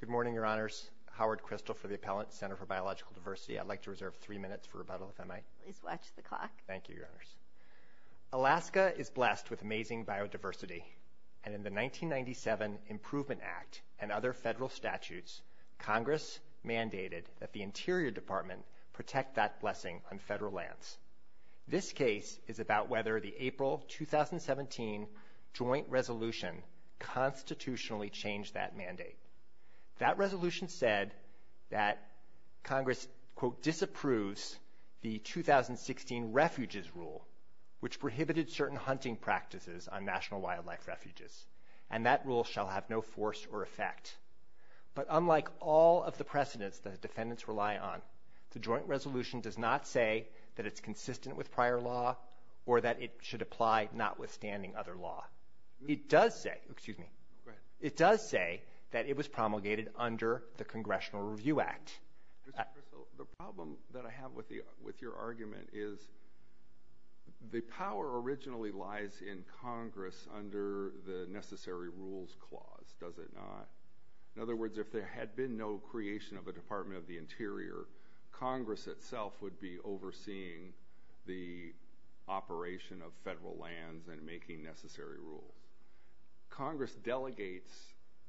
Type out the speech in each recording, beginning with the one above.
Good morning, Your Honors. Howard Kristol for the Appellant, Center for Biological Diversity. I'd like to reserve three minutes for rebuttal, if I might. Please watch the clock. Thank you, Your Honors. Alaska is blessed with amazing biodiversity, and in the 1997 Improvement Act and other federal statutes, Congress mandated that the Interior Department protect that blessing on federal lands. This case is about whether the April 2017 joint resolution constitutionally changed that mandate. That resolution said that Congress, quote, disapproves the 2016 Refuges Rule, which prohibited certain hunting practices on National Wildlife Refuges, and that rule shall have no force or effect. But unlike all of the precedents that defendants rely on, the joint resolution does not say that it's consistent with prior law, or that it should apply notwithstanding other law. It does say, excuse me, it does say that it was promulgated under the Congressional Review Act. Mr. Kristol, the problem that I have with your argument is the power originally lies in Congress under the Necessary Rules Clause, does it not? In other words, if there had been no creation of a Department of the Interior, Congress itself would be overseeing the operation of federal lands and making necessary rules. Congress delegates,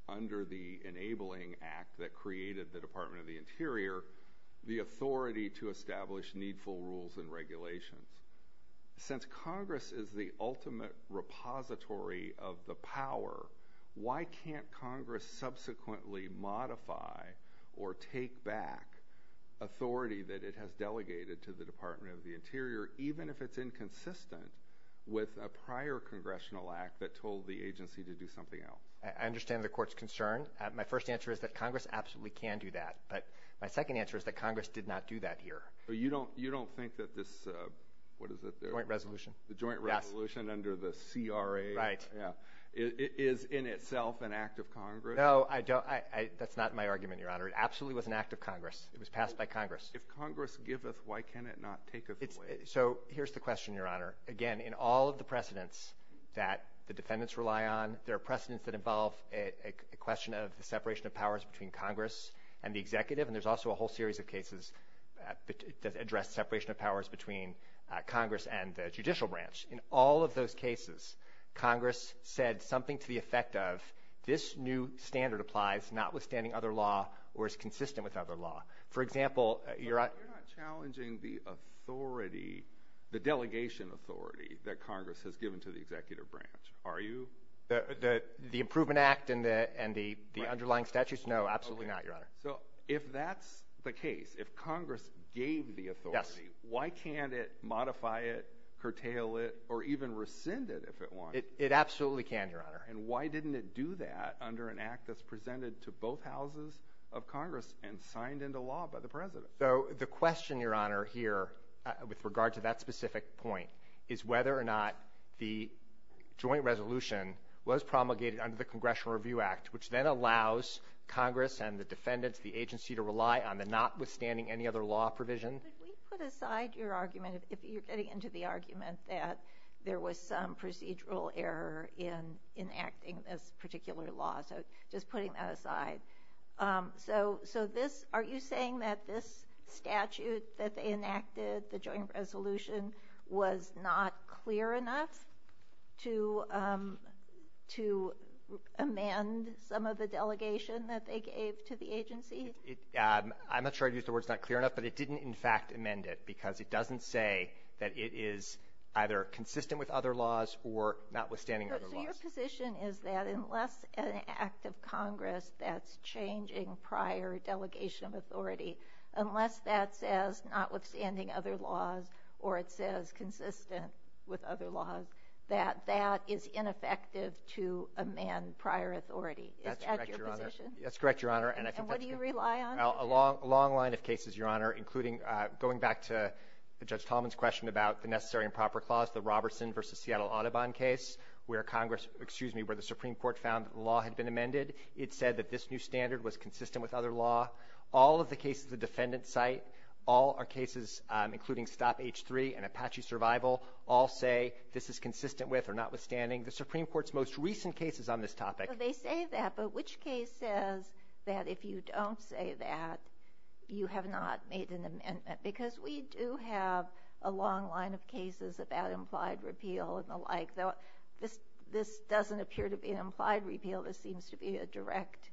under the Enabling Act that created the Department of the Interior, the authority to establish needful rules and regulations. Since Congress is the ultimate repository of the power, why can't Congress subsequently modify or take back authority that it has delegated to the Department of the Interior, even if it's inconsistent with a prior congressional act that told the agency to do something else? I understand the Court's concern. My first answer is that Congress absolutely can do that. But my second answer is that Congress did not do that here. But you don't think that this, what is it? The joint resolution. The joint resolution under the CRA. Right. Yeah. Is in itself an act of Congress? No, I don't. That's not my argument, Your Honor. It absolutely was an act of Congress. It was passed by Congress. If Congress giveth, why can it not taketh away? So here's the question, Your Honor. Again, in all of the precedents that the defendants rely on, there are precedents that involve a question of the separation of powers between Congress and the executive, and there's also a whole series of cases that address separation of powers between Congress and the judicial branch. In all of those cases, Congress said something to the effect of, this new standard applies notwithstanding other law or is consistent with other law. For example, Your Honor. You're not challenging the authority, the delegation authority that Congress has given to the executive branch, are you? The Improvement Act and the underlying statutes? No, absolutely not, Your Honor. So if that's the case, if Congress gave the authority, why can't it modify it, curtail it, or even rescind it if it wants to? It absolutely can, Your Honor. And why didn't it do that under an act that's presented to both houses of Congress and signed into law by the President? So the question, Your Honor, here with regard to that specific point, is whether or not the joint resolution was promulgated under the Congressional Review Act, which then allows Congress and the defendants, the agency, to rely on the notwithstanding any other law provision. Could we put aside your argument, if you're getting into the argument, that there was some procedural error in enacting this particular law? So just putting that aside. So this, are you saying that this statute that they enacted, the joint resolution, was not clear enough to amend some of the delegation that they gave to the agency? I'm not sure I'd use the words not clear enough, but it didn't in fact amend it, because it doesn't say that it is either consistent with other laws or notwithstanding other laws. So your position is that unless an act of Congress that's changing prior delegation of authority, unless that says notwithstanding other laws or it says consistent with other laws, that that is ineffective to amend prior authority. Is that your position? That's correct, Your Honor. And what do you rely on? A long line of cases, Your Honor, including going back to Judge Tallman's question about the necessary and proper clause, the Robertson v. Seattle Audubon case, where Congress, excuse me, where the Supreme Court found that the law had been amended. It said that this new standard was consistent with other law. All of the cases the defendants cite, all our cases, including Stop H-3 and Apache Survival, all say this is consistent with or notwithstanding the Supreme Court's most recent cases on this topic. They say that, but which case says that if you don't say that, you have not made an amendment? Because we do have a long line of cases about implied repeal and the like. This doesn't appear to be an implied repeal. This seems to be a direct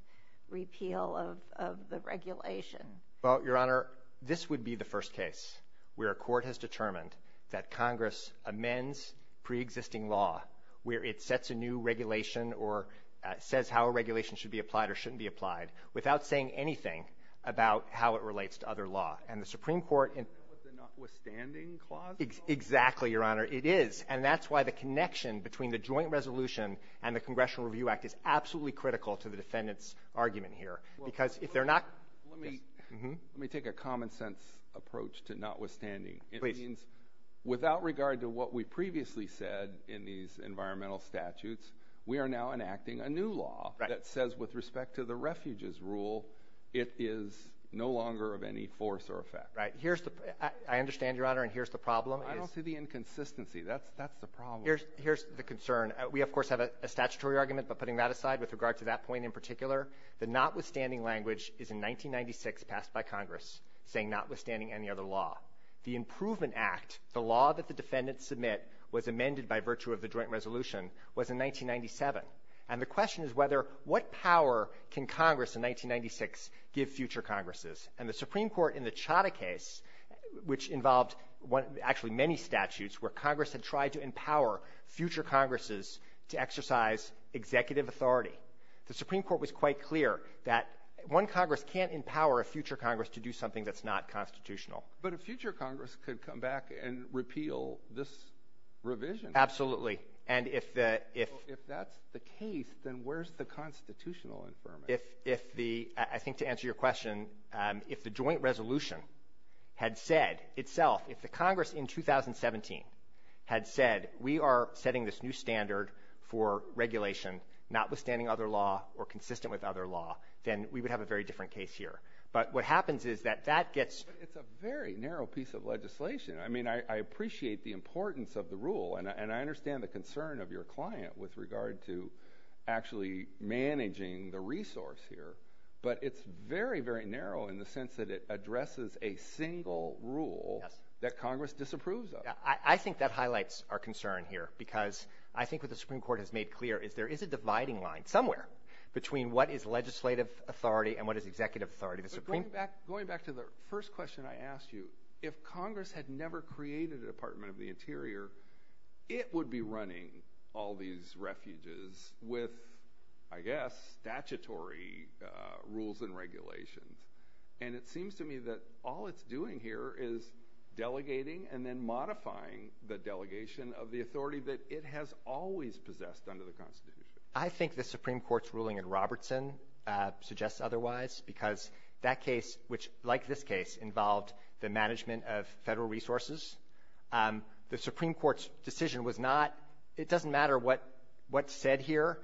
repeal of the regulation. Well, Your Honor, this would be the first case where a court has determined that Congress amends preexisting law where it sets a new regulation or says how a regulation should be applied or shouldn't be applied without saying anything about how it relates to other law. And the Supreme Court — Isn't that what the notwithstanding clause is? Exactly, Your Honor. It is. And that's why the connection between the joint resolution and the Congressional Review Act is absolutely critical to the defendants' argument here. Because if they're not — Let me take a common-sense approach to notwithstanding. Please. It means without regard to what we previously said in these environmental statutes, we are now enacting a new law that says with respect to the refuges rule, it is no longer of any force or effect. Right. Here's the — I understand, Your Honor, and here's the problem. I don't see the inconsistency. That's the problem. Here's the concern. We, of course, have a statutory argument, but putting that aside, with regard to that point in particular, the notwithstanding language is in 1996 passed by Congress saying notwithstanding any other law. The Improvement Act, the law that the defendants submit was amended by virtue of the joint resolution, was in 1997. And the question is whether — what power can Congress in 1996 give future Congresses? And the Supreme Court in the Chadha case, which involved actually many statutes where Congress had tried to empower future Congresses to exercise executive authority, the Supreme Court was quite clear that one Congress can't empower a future Congress to do something that's not constitutional. But a future Congress could come back and repeal this revision. Absolutely. And if the — Well, if that's the case, then where's the constitutional infirmary? If the — I think to answer your question, if the joint resolution had said itself — if the Congress in 2017 had said we are setting this new standard for regulation notwithstanding other law or consistent with other law, then we would have a very different case here. But what happens is that that gets — But it's a very narrow piece of legislation. I mean, I appreciate the importance of the rule. And I understand the concern of your client with regard to actually managing the resource here. But it's very, very narrow in the sense that it addresses a single rule that Congress disapproves of. I think that highlights our concern here because I think what the Supreme Court has made clear is there is a dividing line somewhere between what is legislative authority and what is executive authority. Going back to the first question I asked you, if Congress had never created a Supreme Court in the interior, it would be running all these refuges with, I guess, statutory rules and regulations. And it seems to me that all it's doing here is delegating and then modifying the delegation of the authority that it has always possessed under the Constitution. I think the Supreme Court's ruling in Robertson suggests otherwise because that case involved the management of federal resources. The Supreme Court's decision was not — it doesn't matter what's said here.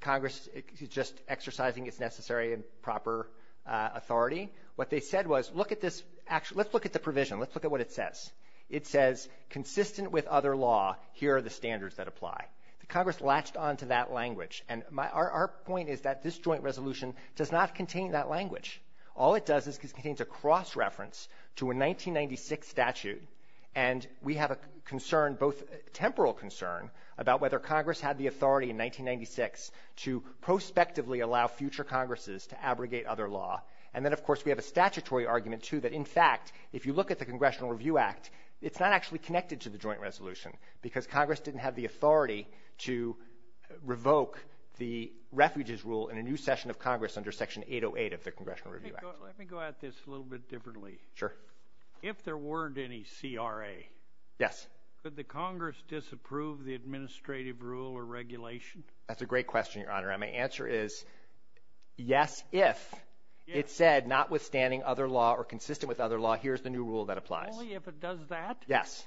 Congress is just exercising its necessary and proper authority. What they said was, look at this — let's look at the provision. Let's look at what it says. It says, consistent with other law, here are the standards that apply. Congress latched onto that language. And our point is that this joint resolution does not contain that language. All it does is it contains a cross-reference to a 1996 statute, and we have a concern, both a temporal concern, about whether Congress had the authority in 1996 to prospectively allow future Congresses to abrogate other law. And then, of course, we have a statutory argument, too, that, in fact, if you look at the Congressional Review Act, it's not actually connected to the joint resolution because Congress didn't have the authority to revoke the refuges rule in a new session of Congress under Section 808 of the Congressional Review Act. Let me go at this a little bit differently. Sure. If there weren't any CRA — Yes. — could the Congress disapprove the administrative rule or regulation? That's a great question, Your Honor. And my answer is, yes, if it said, notwithstanding other law or consistent with other law, here's the new rule that applies. Only if it does that? Yes.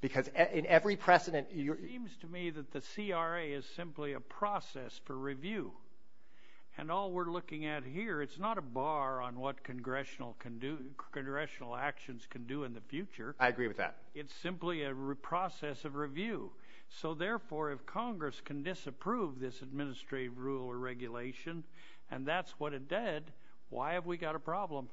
Because in every precedent — It seems to me that the CRA is simply a process for review. And all we're looking at here, it's not a bar on what congressional actions can do in the future. I agree with that. It's simply a process of review. So, therefore, if Congress can disapprove this administrative rule or regulation, and that's what it did, why have we got a problem?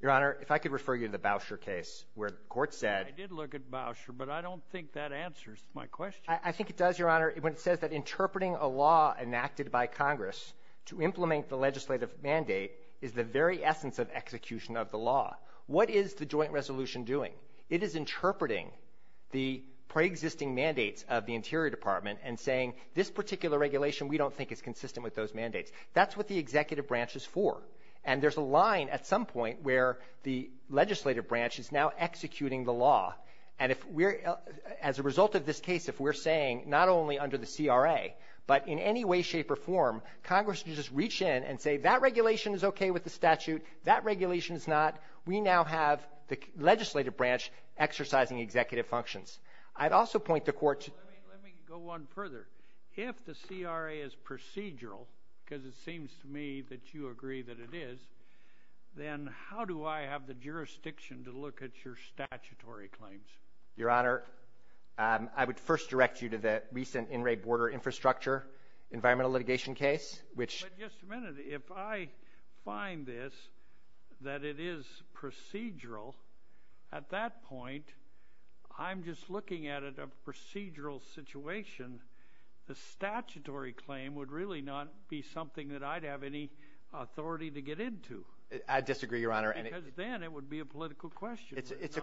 Your Honor, if I could refer you to the Bousher case, where the court said — I did look at Bousher, but I don't think that answers my question. I think it does, Your Honor, when it says that interpreting a law enacted by Congress to implement the legislative mandate is the very essence of execution of the law. What is the joint resolution doing? It is interpreting the preexisting mandates of the Interior Department and saying, this particular regulation we don't think is consistent with those mandates. That's what the executive branch is for. And there's a line at some point where the legislative branch is now executing the law. And if we're — as a result of this case, if we're saying not only under the CRA, but in any way, shape, or form, Congress can just reach in and say, that regulation is okay with the statute, that regulation is not, we now have the legislative branch exercising executive functions. I'd also point the court to — Let me go one further. If the CRA is procedural, because it seems to me that you agree that it is, then how do I have the jurisdiction to look at your statutory claims? Your Honor, I would first direct you to the recent in-ray border infrastructure environmental litigation case, which — But just a minute. If I find this, that it is procedural, at that point, I'm just looking at it as a procedural situation, the statutory claim would really not be something that I'd have any authority to get into. I disagree, Your Honor. Because then it would be a political question. It's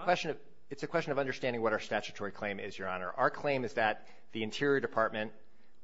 a question of understanding what our statutory claim is, Your Honor. Our claim is that the Interior Department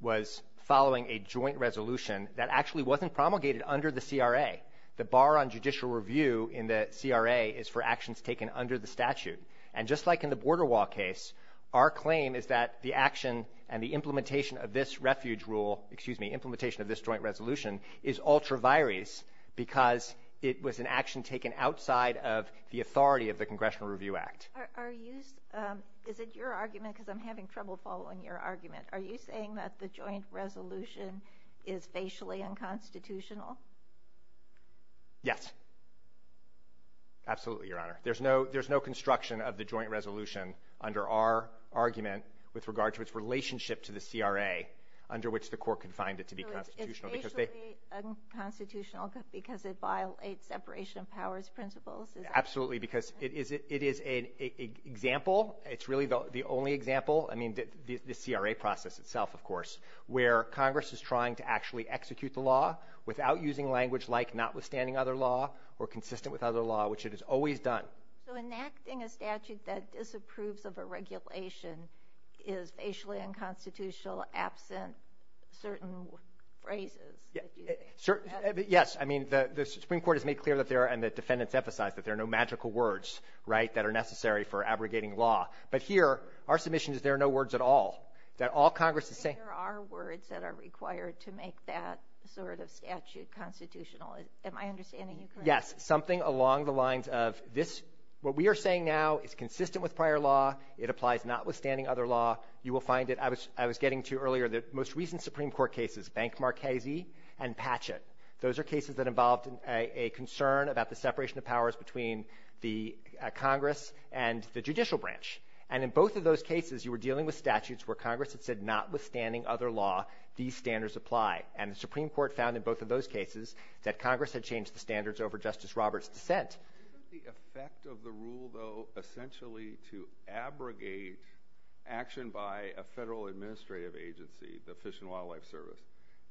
was following a joint resolution that actually wasn't promulgated under the CRA. The bar on judicial review in the CRA is for actions taken under the statute. And just like in the border wall case, our claim is that the action and the implementation of this refuge rule — excuse me, implementation of this joint resolution — is ultra vires because it was an action taken outside of the authority of the Congressional Review Act. Are you — Is it your argument, because I'm having trouble following your argument. Are you saying that the joint resolution is facially unconstitutional? Yes. Absolutely, Your Honor. There's no construction of the joint resolution under our argument with regard to its relationship to the CRA, under which the court confined it to be constitutional. So it's facially unconstitutional because it violates separation of powers principles? Absolutely. Because it is an example. It's really the only example. I mean, the CRA process itself, of course, where Congress is trying to actually execute the law without using language like notwithstanding other law or consistent with other law, which it has always done. So enacting a statute that disapproves of a regulation is facially unconstitutional absent certain phrases? Yes. I mean, the Supreme Court has made clear that there are — and the defendants emphasized that there are no magical words, right, that are necessary for abrogating law. But here, our submission is there are no words at all, that all Congress is saying — There are words that are required to make that sort of statute constitutional. Am I understanding you correctly? Yes. Something along the lines of this — what we are saying now is consistent with prior law. It applies notwithstanding other law. You will find it. I was getting to earlier the most recent Supreme Court cases, Bank Marchesi and Patchett. Those are cases that involved a concern about the separation of powers between the Congress and the judicial branch. And in both of those cases, you were dealing with statutes where Congress had said notwithstanding other law, these standards apply. And the Supreme Court found in both of those cases that Congress had changed the standards over Justice Roberts' dissent. Isn't the effect of the rule, though, essentially to abrogate action by a federal administrative agency, the Fish and Wildlife Service,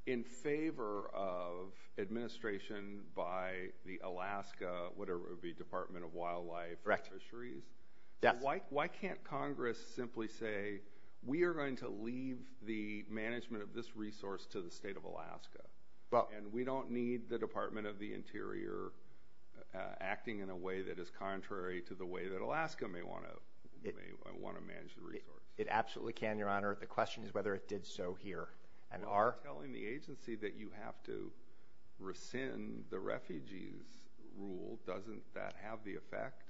in favor of administration by the Alaska, whatever it would be, Department of Wildlife Fisheries? Correct. Why can't Congress simply say we are going to leave the management of this resource to the state of Alaska? Well — And we don't need the Department of the Interior acting in a way that is contrary to the way that Alaska may want to manage the resource. It absolutely can, Your Honor. The question is whether it did so here. Well, you're telling the agency that you have to rescind the refugees rule. Doesn't that have the effect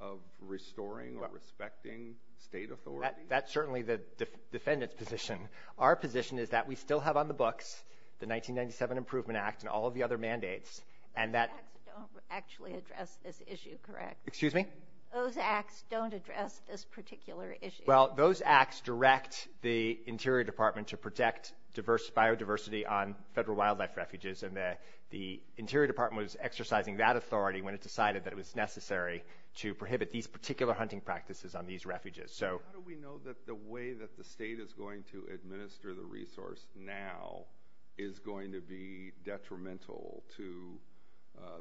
of restoring or respecting state authority? That's certainly the defendant's position. Our position is that we still have on the books the 1997 Improvement Act and all of the other mandates. Those acts don't actually address this issue, correct? Excuse me? Those acts don't address this particular issue. Well, those acts direct the Interior Department to protect biodiversity on federal wildlife refuges, and the Interior Department was exercising that authority when it decided that it was necessary to prohibit these particular hunting practices on these refuges. How do we know that the way that the state is going to administer the resource now is going to be detrimental to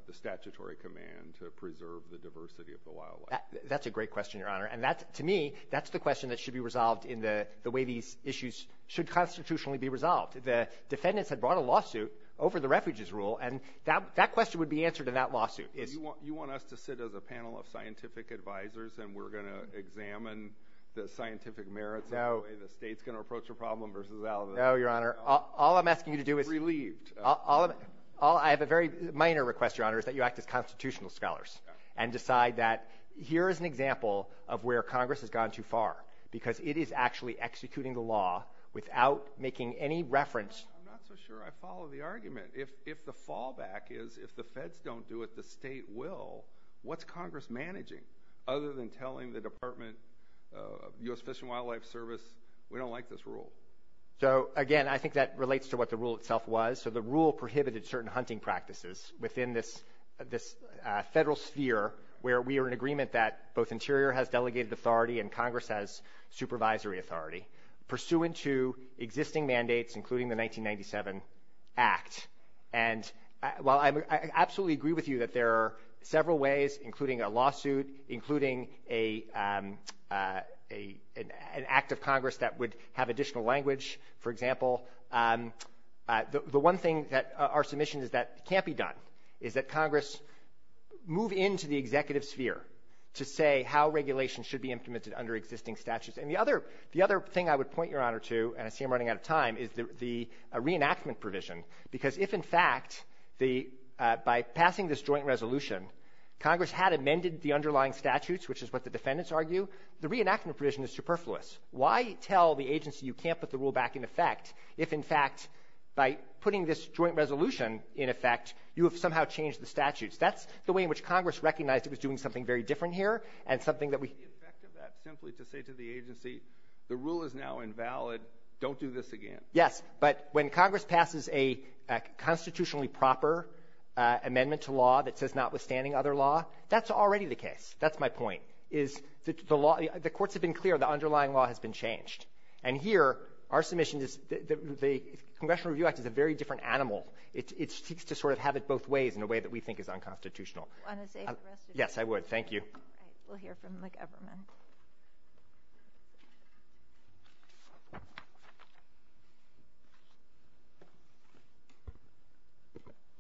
the statutory command to preserve the diversity of the wildlife? That's a great question, Your Honor. And to me, that's the question that should be resolved in the way these issues should constitutionally be resolved. The defendants had brought a lawsuit over the refuges rule, and that question would be answered in that lawsuit. You want us to sit as a panel of scientific advisors and we're going to examine the scientific merits of the way the state is going to approach the problem versus Alabama? No, Your Honor. All I'm asking you to do is— Relieved. I have a very minor request, Your Honor, is that you act as constitutional scholars and decide that here is an example of where Congress has gone too far because it is actually executing the law without making any reference— I'm not so sure I follow the argument. If the fallback is if the feds don't do it, the state will, what's Congress managing other than telling the Department of U.S. Fish and Wildlife Service we don't like this rule? Again, I think that relates to what the rule itself was. The rule prohibited certain hunting practices within this federal sphere where we are in agreement that both Interior has delegated authority and Congress has supervisory authority. Pursuant to existing mandates, including the 1997 Act, and while I absolutely agree with you that there are several ways, including a lawsuit, including an act of Congress that would have additional language, for example, the one thing that our submission is that can't be done, is that Congress move into the executive sphere to say how regulations should be implemented under existing statutes. And the other thing I would point Your Honor to, and I see I'm running out of time, is the reenactment provision. Because if, in fact, by passing this joint resolution, Congress had amended the underlying statutes, which is what the defendants argue, the reenactment provision is superfluous. Why tell the agency you can't put the rule back in effect if, in fact, by putting this joint resolution in effect, you have somehow changed the statutes? That's the way in which Congress recognized it was doing something very different here and something that we — The rule is now invalid. Don't do this again. Yes. But when Congress passes a constitutionally proper amendment to law that says notwithstanding other law, that's already the case. That's my point, is the courts have been clear. The underlying law has been changed. And here, our submission is the Congressional Review Act is a very different animal. It seeks to sort of have it both ways in a way that we think is unconstitutional. Do you want to save the rest of your time? Yes, I would. Thank you. All right. We'll hear from McEverman.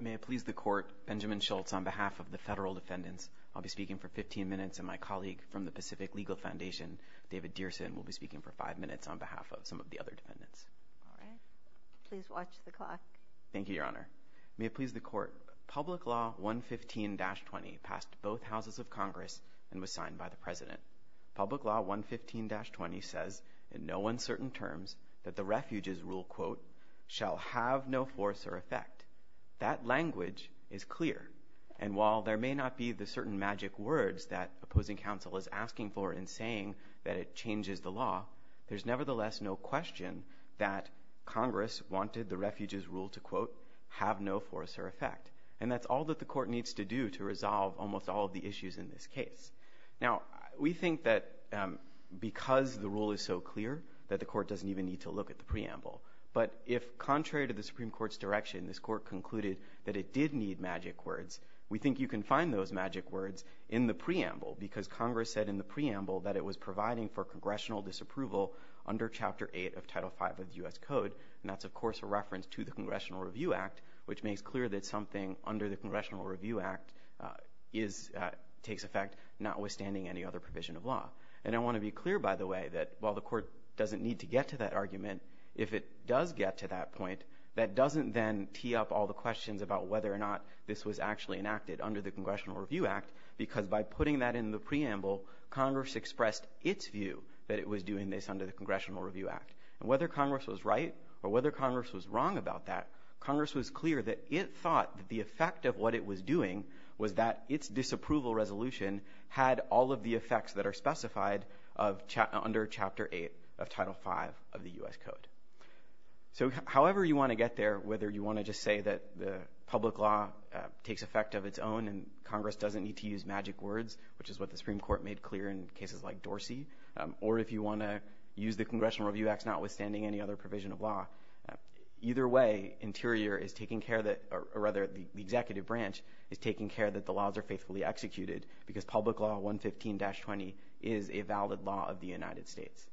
May it please the Court, Benjamin Schultz on behalf of the federal defendants. I'll be speaking for 15 minutes and my colleague from the Pacific Legal Foundation, David Dearson, will be speaking for five minutes on behalf of some of the other defendants. All right. Please watch the clock. Thank you, Your Honor. May it please the Court, Public Law 115-20 passed both houses of Congress and was signed by the President. Public Law 115-20 says in no uncertain terms that the Refuge's Rule, quote, shall have no force or effect. That language is clear. And while there may not be the certain magic words that opposing counsel is asking for in saying that it changes the law, there's nevertheless no question that Congress wanted the Refuge's Rule to, quote, have no force or effect. And that's all that the Court needs to do to resolve almost all of the issues in this case. Now, we think that because the rule is so clear that the Court doesn't even need to look at the preamble. But if, contrary to the Supreme Court's direction, this Court concluded that it did need magic words, we think you can find those magic words in the preamble because Congress said in the preamble that it was providing for congressional disapproval under Chapter 8 of Title V of the U.S. Code. And that's, of course, a reference to the Congressional Review Act, which makes clear that something under the Congressional Review Act is – takes effect notwithstanding any other provision of law. And I want to be clear, by the way, that while the Court doesn't need to get to that argument, if it does get to that point, that doesn't then tee up all the questions about whether or not this was actually enacted under the Congressional Review Act because by putting that in the preamble, Congress expressed its view that it was doing this under the Congressional Review Act. And whether Congress was right or whether Congress was wrong about that, Congress was clear that it thought that the effect of what it was doing was that its disapproval resolution had all of the effects that are specified of – under Chapter 8 of Title V of the U.S. Code. So however you want to get there, whether you want to just say that the public law takes effect of its own and Congress doesn't need to use magic words, which is what the Supreme any other provision of law. Either way, Interior is taking care that – or rather, the Executive Branch is taking care that the laws are faithfully executed because public law 115-20 is a valid law of the United States.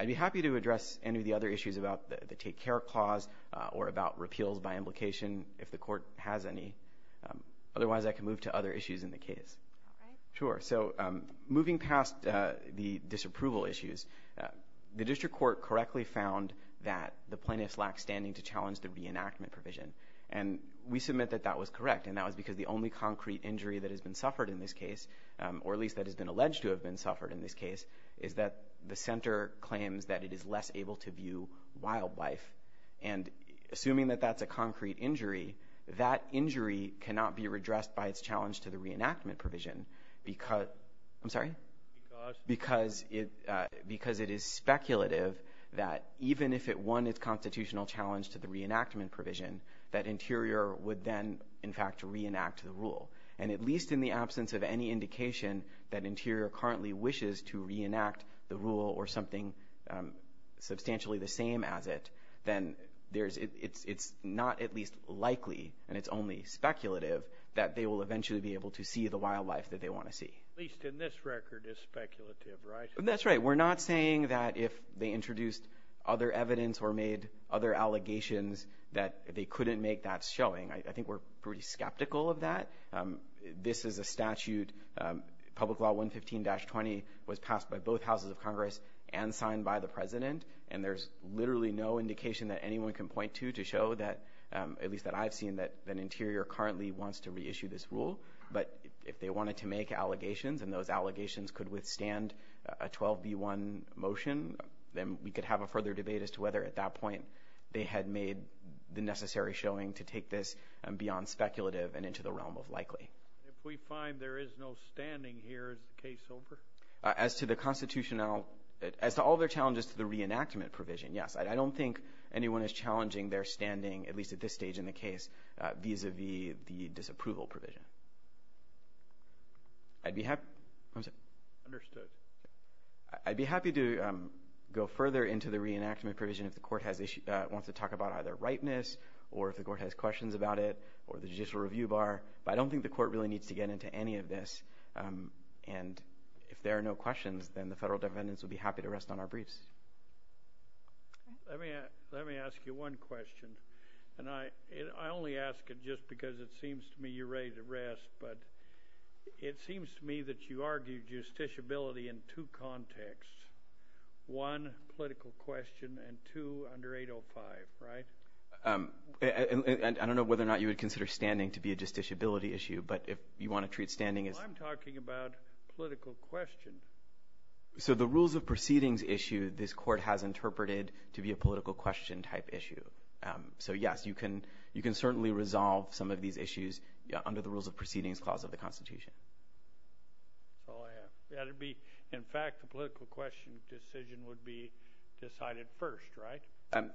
I'd be happy to address any of the other issues about the Take Care Clause or about repeals by implication if the Court has any. Otherwise, I can move to other issues in the case. All right. Sure. So moving past the disapproval issues, the district court correctly found that the plaintiffs lack standing to challenge the reenactment provision. And we submit that that was correct, and that was because the only concrete injury that has been suffered in this case, or at least that has been alleged to have been suffered in this case, is that the center claims that it is less able to view wildlife. And assuming that that's a concrete injury, that injury cannot be redressed by its challenge to the reenactment provision because – I'm sorry? Because? Because it is speculative that even if it won its constitutional challenge to the reenactment provision, that Interior would then, in fact, reenact the rule. And at least in the absence of any indication that Interior currently wishes to reenact the rule or something substantially the same as it, then there's – it's not at least likely and it's only speculative that they will eventually be able to see the wildlife that they want to see. At least in this record, it's speculative, right? That's right. We're not saying that if they introduced other evidence or made other allegations that they couldn't make that showing. I think we're pretty skeptical of that. This is a statute – Public Law 115-20 was passed by both houses of Congress and signed by the President, and there's literally no indication that anyone can point to to show that – at least that I've seen – that Interior currently wants to reissue this rule. But if they wanted to make allegations and those allegations could withstand a 12B1 motion, then we could have a further debate as to whether at that point they had made the necessary showing to take this beyond speculative and into the realm of likely. If we find there is no standing here, is the case over? As to the constitutional – as to all their challenges to the reenactment provision, yes. I don't think anyone is challenging their standing, at least at this stage in the case, vis-à-vis the disapproval provision. I'd be – what was that? Understood. I'd be happy to go further into the reenactment provision if the court has – wants to talk about either ripeness or if the court has questions about it or the judicial review bar. But I don't think the court really needs to get into any of this. And if there are no questions, then the federal defendants would be happy to rest on our briefs. Let me ask you one question. And I only ask it just because it seems to me you're ready to rest, but it seems to me that you argued justiciability in two contexts, one, political question, and two, under 805, right? I don't know whether or not you would consider standing to be a justiciability issue, but if you want to treat standing as – Well, I'm talking about political question. So the rules of proceedings issue this court has interpreted to be a political question type issue. So, yes, you can certainly resolve some of these issues under the rules of proceedings clause of the Constitution. That's all I have. In fact, the political question decision would be decided first, right?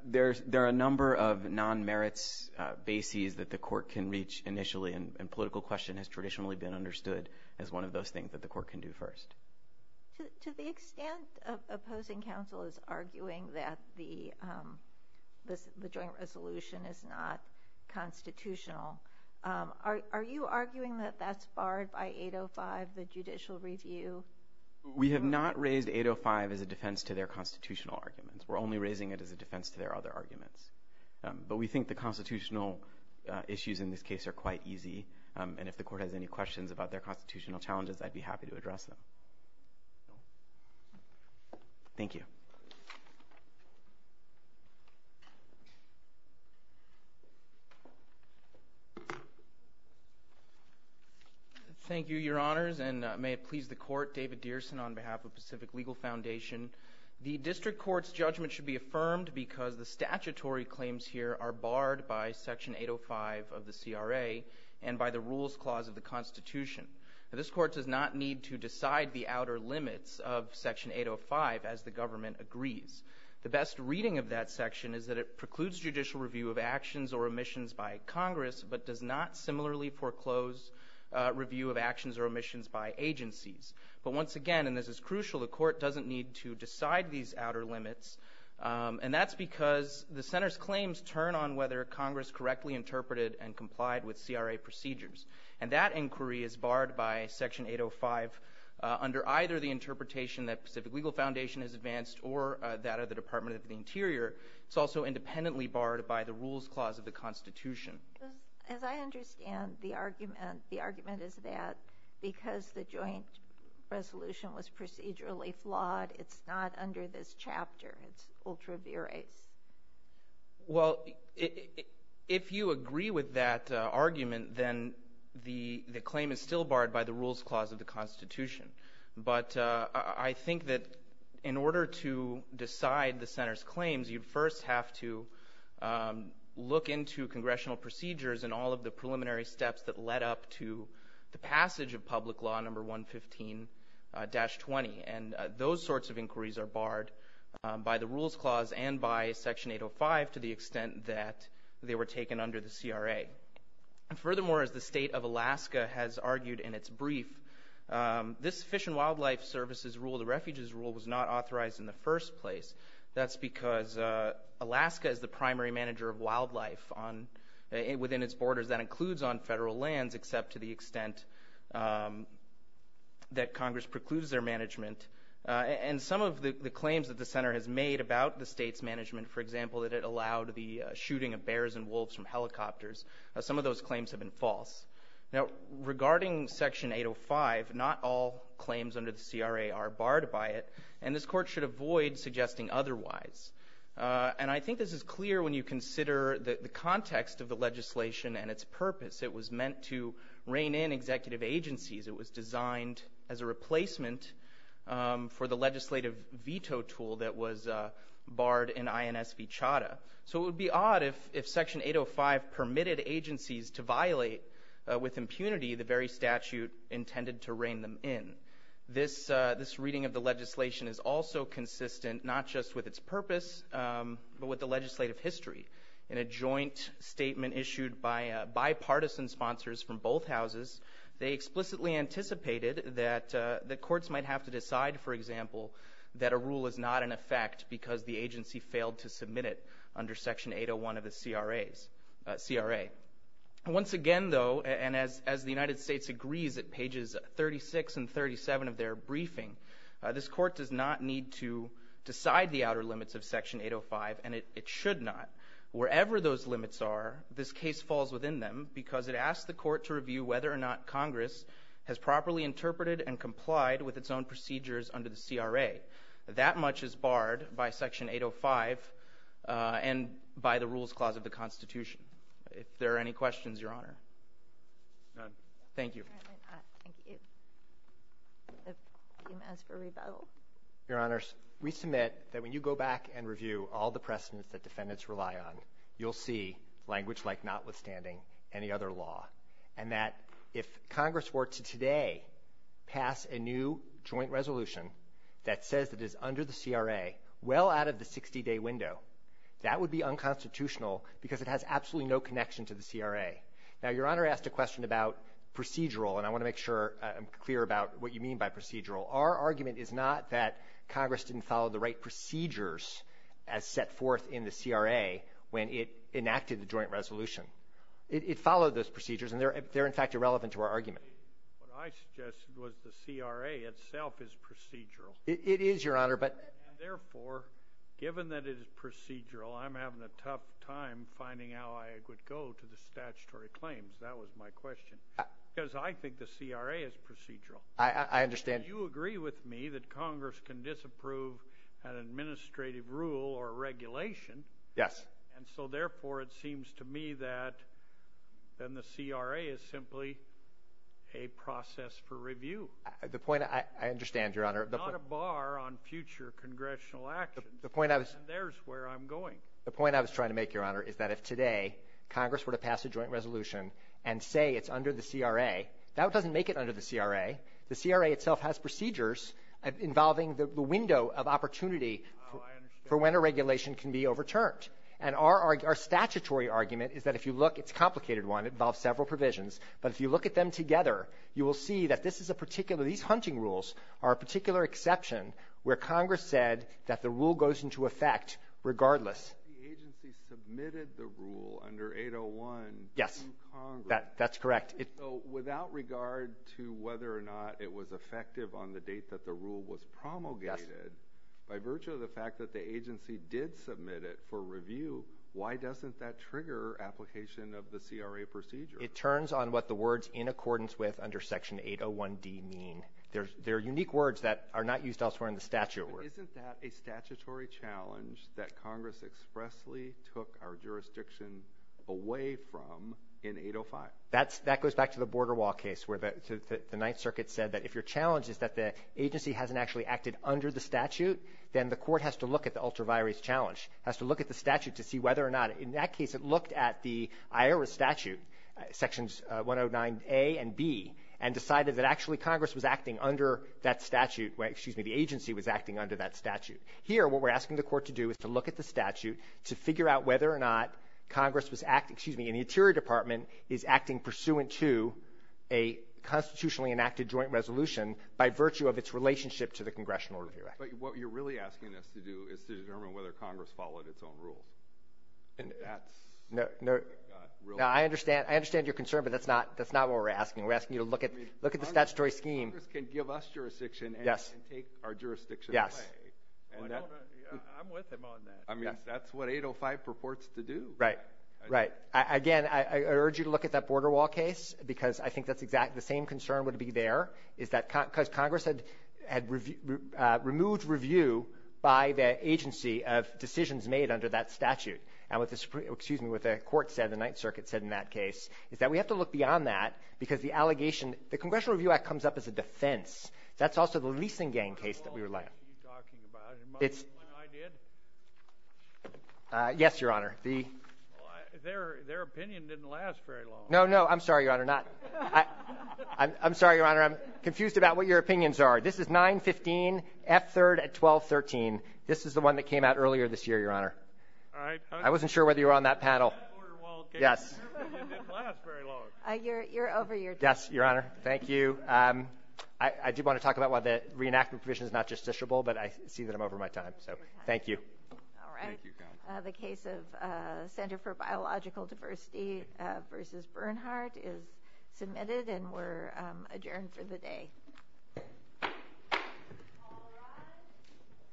There are a number of non-merits bases that the court can reach initially, and political question has traditionally been understood as one of those things that the court can do first. To the extent of opposing counsel is arguing that the joint resolution is not constitutional, are you arguing that that's barred by 805, the judicial review? We have not raised 805 as a defense to their constitutional arguments. We're only raising it as a defense to their other arguments. But we think the constitutional issues in this case are quite easy, and if the court has any questions about their constitutional challenges, I'd be happy to address them. Thank you. Thank you, Your Honors, and may it please the court, David Dearson on behalf of Pacific Legal Foundation. The district court's judgment should be affirmed because the statutory claims here are barred by Section 805 of the CRA and by the rules clause of the Constitution. This court does not need to decide the outer limits of Section 805 as the government agrees. The best reading of that section is that it precludes judicial review of actions or omissions by Congress, but does not similarly foreclose review of actions or omissions by agencies. But once again, and this is crucial, the court doesn't need to decide these outer limits, and that's because the center's claims turn on whether Congress correctly interpreted and complied with CRA procedures. And that inquiry is barred by Section 805 under either the interpretation that Pacific Legal Foundation has advanced or that of the Department of the Interior. It's also independently barred by the rules clause of the Constitution. As I understand the argument, the argument is that because the joint resolution was procedurally flawed, it's not under this chapter. It's ultra viris. Well, if you agree with that argument, then the claim is still barred by the rules clause of the Constitution. But I think that in order to decide the center's claims, you first have to look into congressional procedures and all of the preliminary steps that led up to the passage of Public Law Number 115-20, and those sorts of inquiries are barred by the rules clause and by Section 805 to the extent that they were taken under the CRA. And furthermore, as the state of Alaska has argued in its brief, this Fish and Wildlife Service's rule, the Refuge's rule, was not authorized in the first place. That's because Alaska is the primary manager of wildlife within its borders. That includes on federal lands, except to the extent that Congress precludes their management. And some of the claims that the center has made about the state's management, for example, that it allowed the shooting of bears and wolves from helicopters, some of those claims have been false. Now, regarding Section 805, not all claims under the CRA are barred by it, and this court should avoid suggesting otherwise. And I think this is clear when you consider the context of the legislation and its purpose. It was meant to rein in executive agencies. It was designed as a replacement for the legislative veto tool that was barred in INSV Chadha. So it would be odd if Section 805 permitted agencies to violate with impunity the very statute intended to rein them in. This reading of the legislation is also consistent, not just with its purpose, but with the legislative history. In a joint statement issued by bipartisan sponsors from both houses, they explicitly anticipated that the courts might have to decide, for example, that a rule is not in effect because the agency failed to submit it under Section 801 of the CRA. Once again, though, and as the United States agrees at pages 36 and 37 of their briefing, this court does not need to decide the outer limits of Section 805, and it should not. Wherever those limits are, this case falls within them because it asks the court to review whether or not Congress has properly interpreted and complied with its own procedures under the CRA. That much is barred by Section 805 and by the Rules Clause of the Constitution. If there are any questions, Your Honor. None. Thank you. Your Honor, we submit that when you go back and review all the precedents that defendants rely on, you'll see language like notwithstanding any other law, and that if Congress were to today pass a new joint resolution that says it is under the CRA well out of the 60-day window, that would be unconstitutional because it has absolutely no connection to the CRA. Now, Your Honor asked a question about procedural, and I want to make sure I'm clear about what you mean by procedural. Our argument is not that Congress didn't follow the right procedures as set forth in the CRA when it enacted the joint resolution. It followed those procedures, and they're in fact irrelevant to our argument. What I suggested was the CRA itself is procedural. It is, Your Honor, but — And, therefore, given that it is procedural, I'm having a tough time finding how I would go to the statutory claims. That was my question because I think the CRA is procedural. I understand. You agree with me that Congress can disapprove an administrative rule or regulation. Yes. And so, therefore, it seems to me that then the CRA is simply a process for review. The point, I understand, Your Honor. It's not a bar on future congressional actions. The point I was — And there's where I'm going. The point I was trying to make, Your Honor, is that if today Congress were to pass a joint resolution and say it's under the CRA, that doesn't make it under the CRA. The CRA itself has procedures involving the window of opportunity for when a regulation can be overturned. And our statutory argument is that if you look, it's a complicated one. It involves several provisions. But if you look at them together, you will see that this is a particular So these hunting rules are a particular exception where Congress said that the rule goes into effect regardless. The agency submitted the rule under 801 to Congress. Yes. That's correct. So without regard to whether or not it was effective on the date that the rule was promulgated, by virtue of the fact that the agency did submit it for review, why doesn't that trigger application of the CRA procedure? It turns on what the words in accordance with under Section 801D mean. They're unique words that are not used elsewhere in the statute. Isn't that a statutory challenge that Congress expressly took our jurisdiction away from in 805? That goes back to the border wall case where the Ninth Circuit said that if your challenge is that the agency hasn't actually acted under the statute, then the court has to look at the ultraviarious challenge, has to look at the statute to see whether or not — in that section 109A and B, and decided that actually Congress was acting under that statute — excuse me, the agency was acting under that statute. Here, what we're asking the court to do is to look at the statute to figure out whether or not Congress was — excuse me, in the interior department is acting pursuant to a constitutionally enacted joint resolution by virtue of its relationship to the Congressional Review Act. But what you're really asking us to do is to determine whether Congress followed its own rules. And that's — No. No. I understand — I understand your concern, but that's not — that's not what we're asking. We're asking you to look at — look at the statutory scheme. I mean, Congress can give us jurisdiction — Yes. — and take our jurisdiction away. Yes. And that — I'm with him on that. Yes. I mean, that's what 805 purports to do. Right. Right. Again, I urge you to look at that border wall case, because I think that's exactly — the same concern would be there, is that — because Congress had removed review by the agency of decisions made under that statute. And with the — excuse me — what the court said, the Ninth Circuit said in that case, is that we have to look beyond that, because the allegation — the Congressional Review Act comes up as a defense. That's also the leasing gang case that we rely on. That's all that you're talking about. It might be what I did. Yes, Your Honor. The — Well, I — their — their opinion didn't last very long. No. No. I'm sorry, Your Honor. Not — I — I'm sorry, Your Honor. I'm confused about what your opinions are. This is 9-15, F-3rd at 12-13. This is the one that came out earlier this year, Your Honor. All right. I wasn't sure whether you were on that panel. Yes. It didn't last very long. You're over your time. Yes, Your Honor. Thank you. I do want to talk about why the reenactment provision is not justiciable, but I see that I'm over my time. So, thank you. All right. Thank you, counsel. The case of Center for Biological Diversity v. Bernhardt is submitted, and we're adjourned for the day.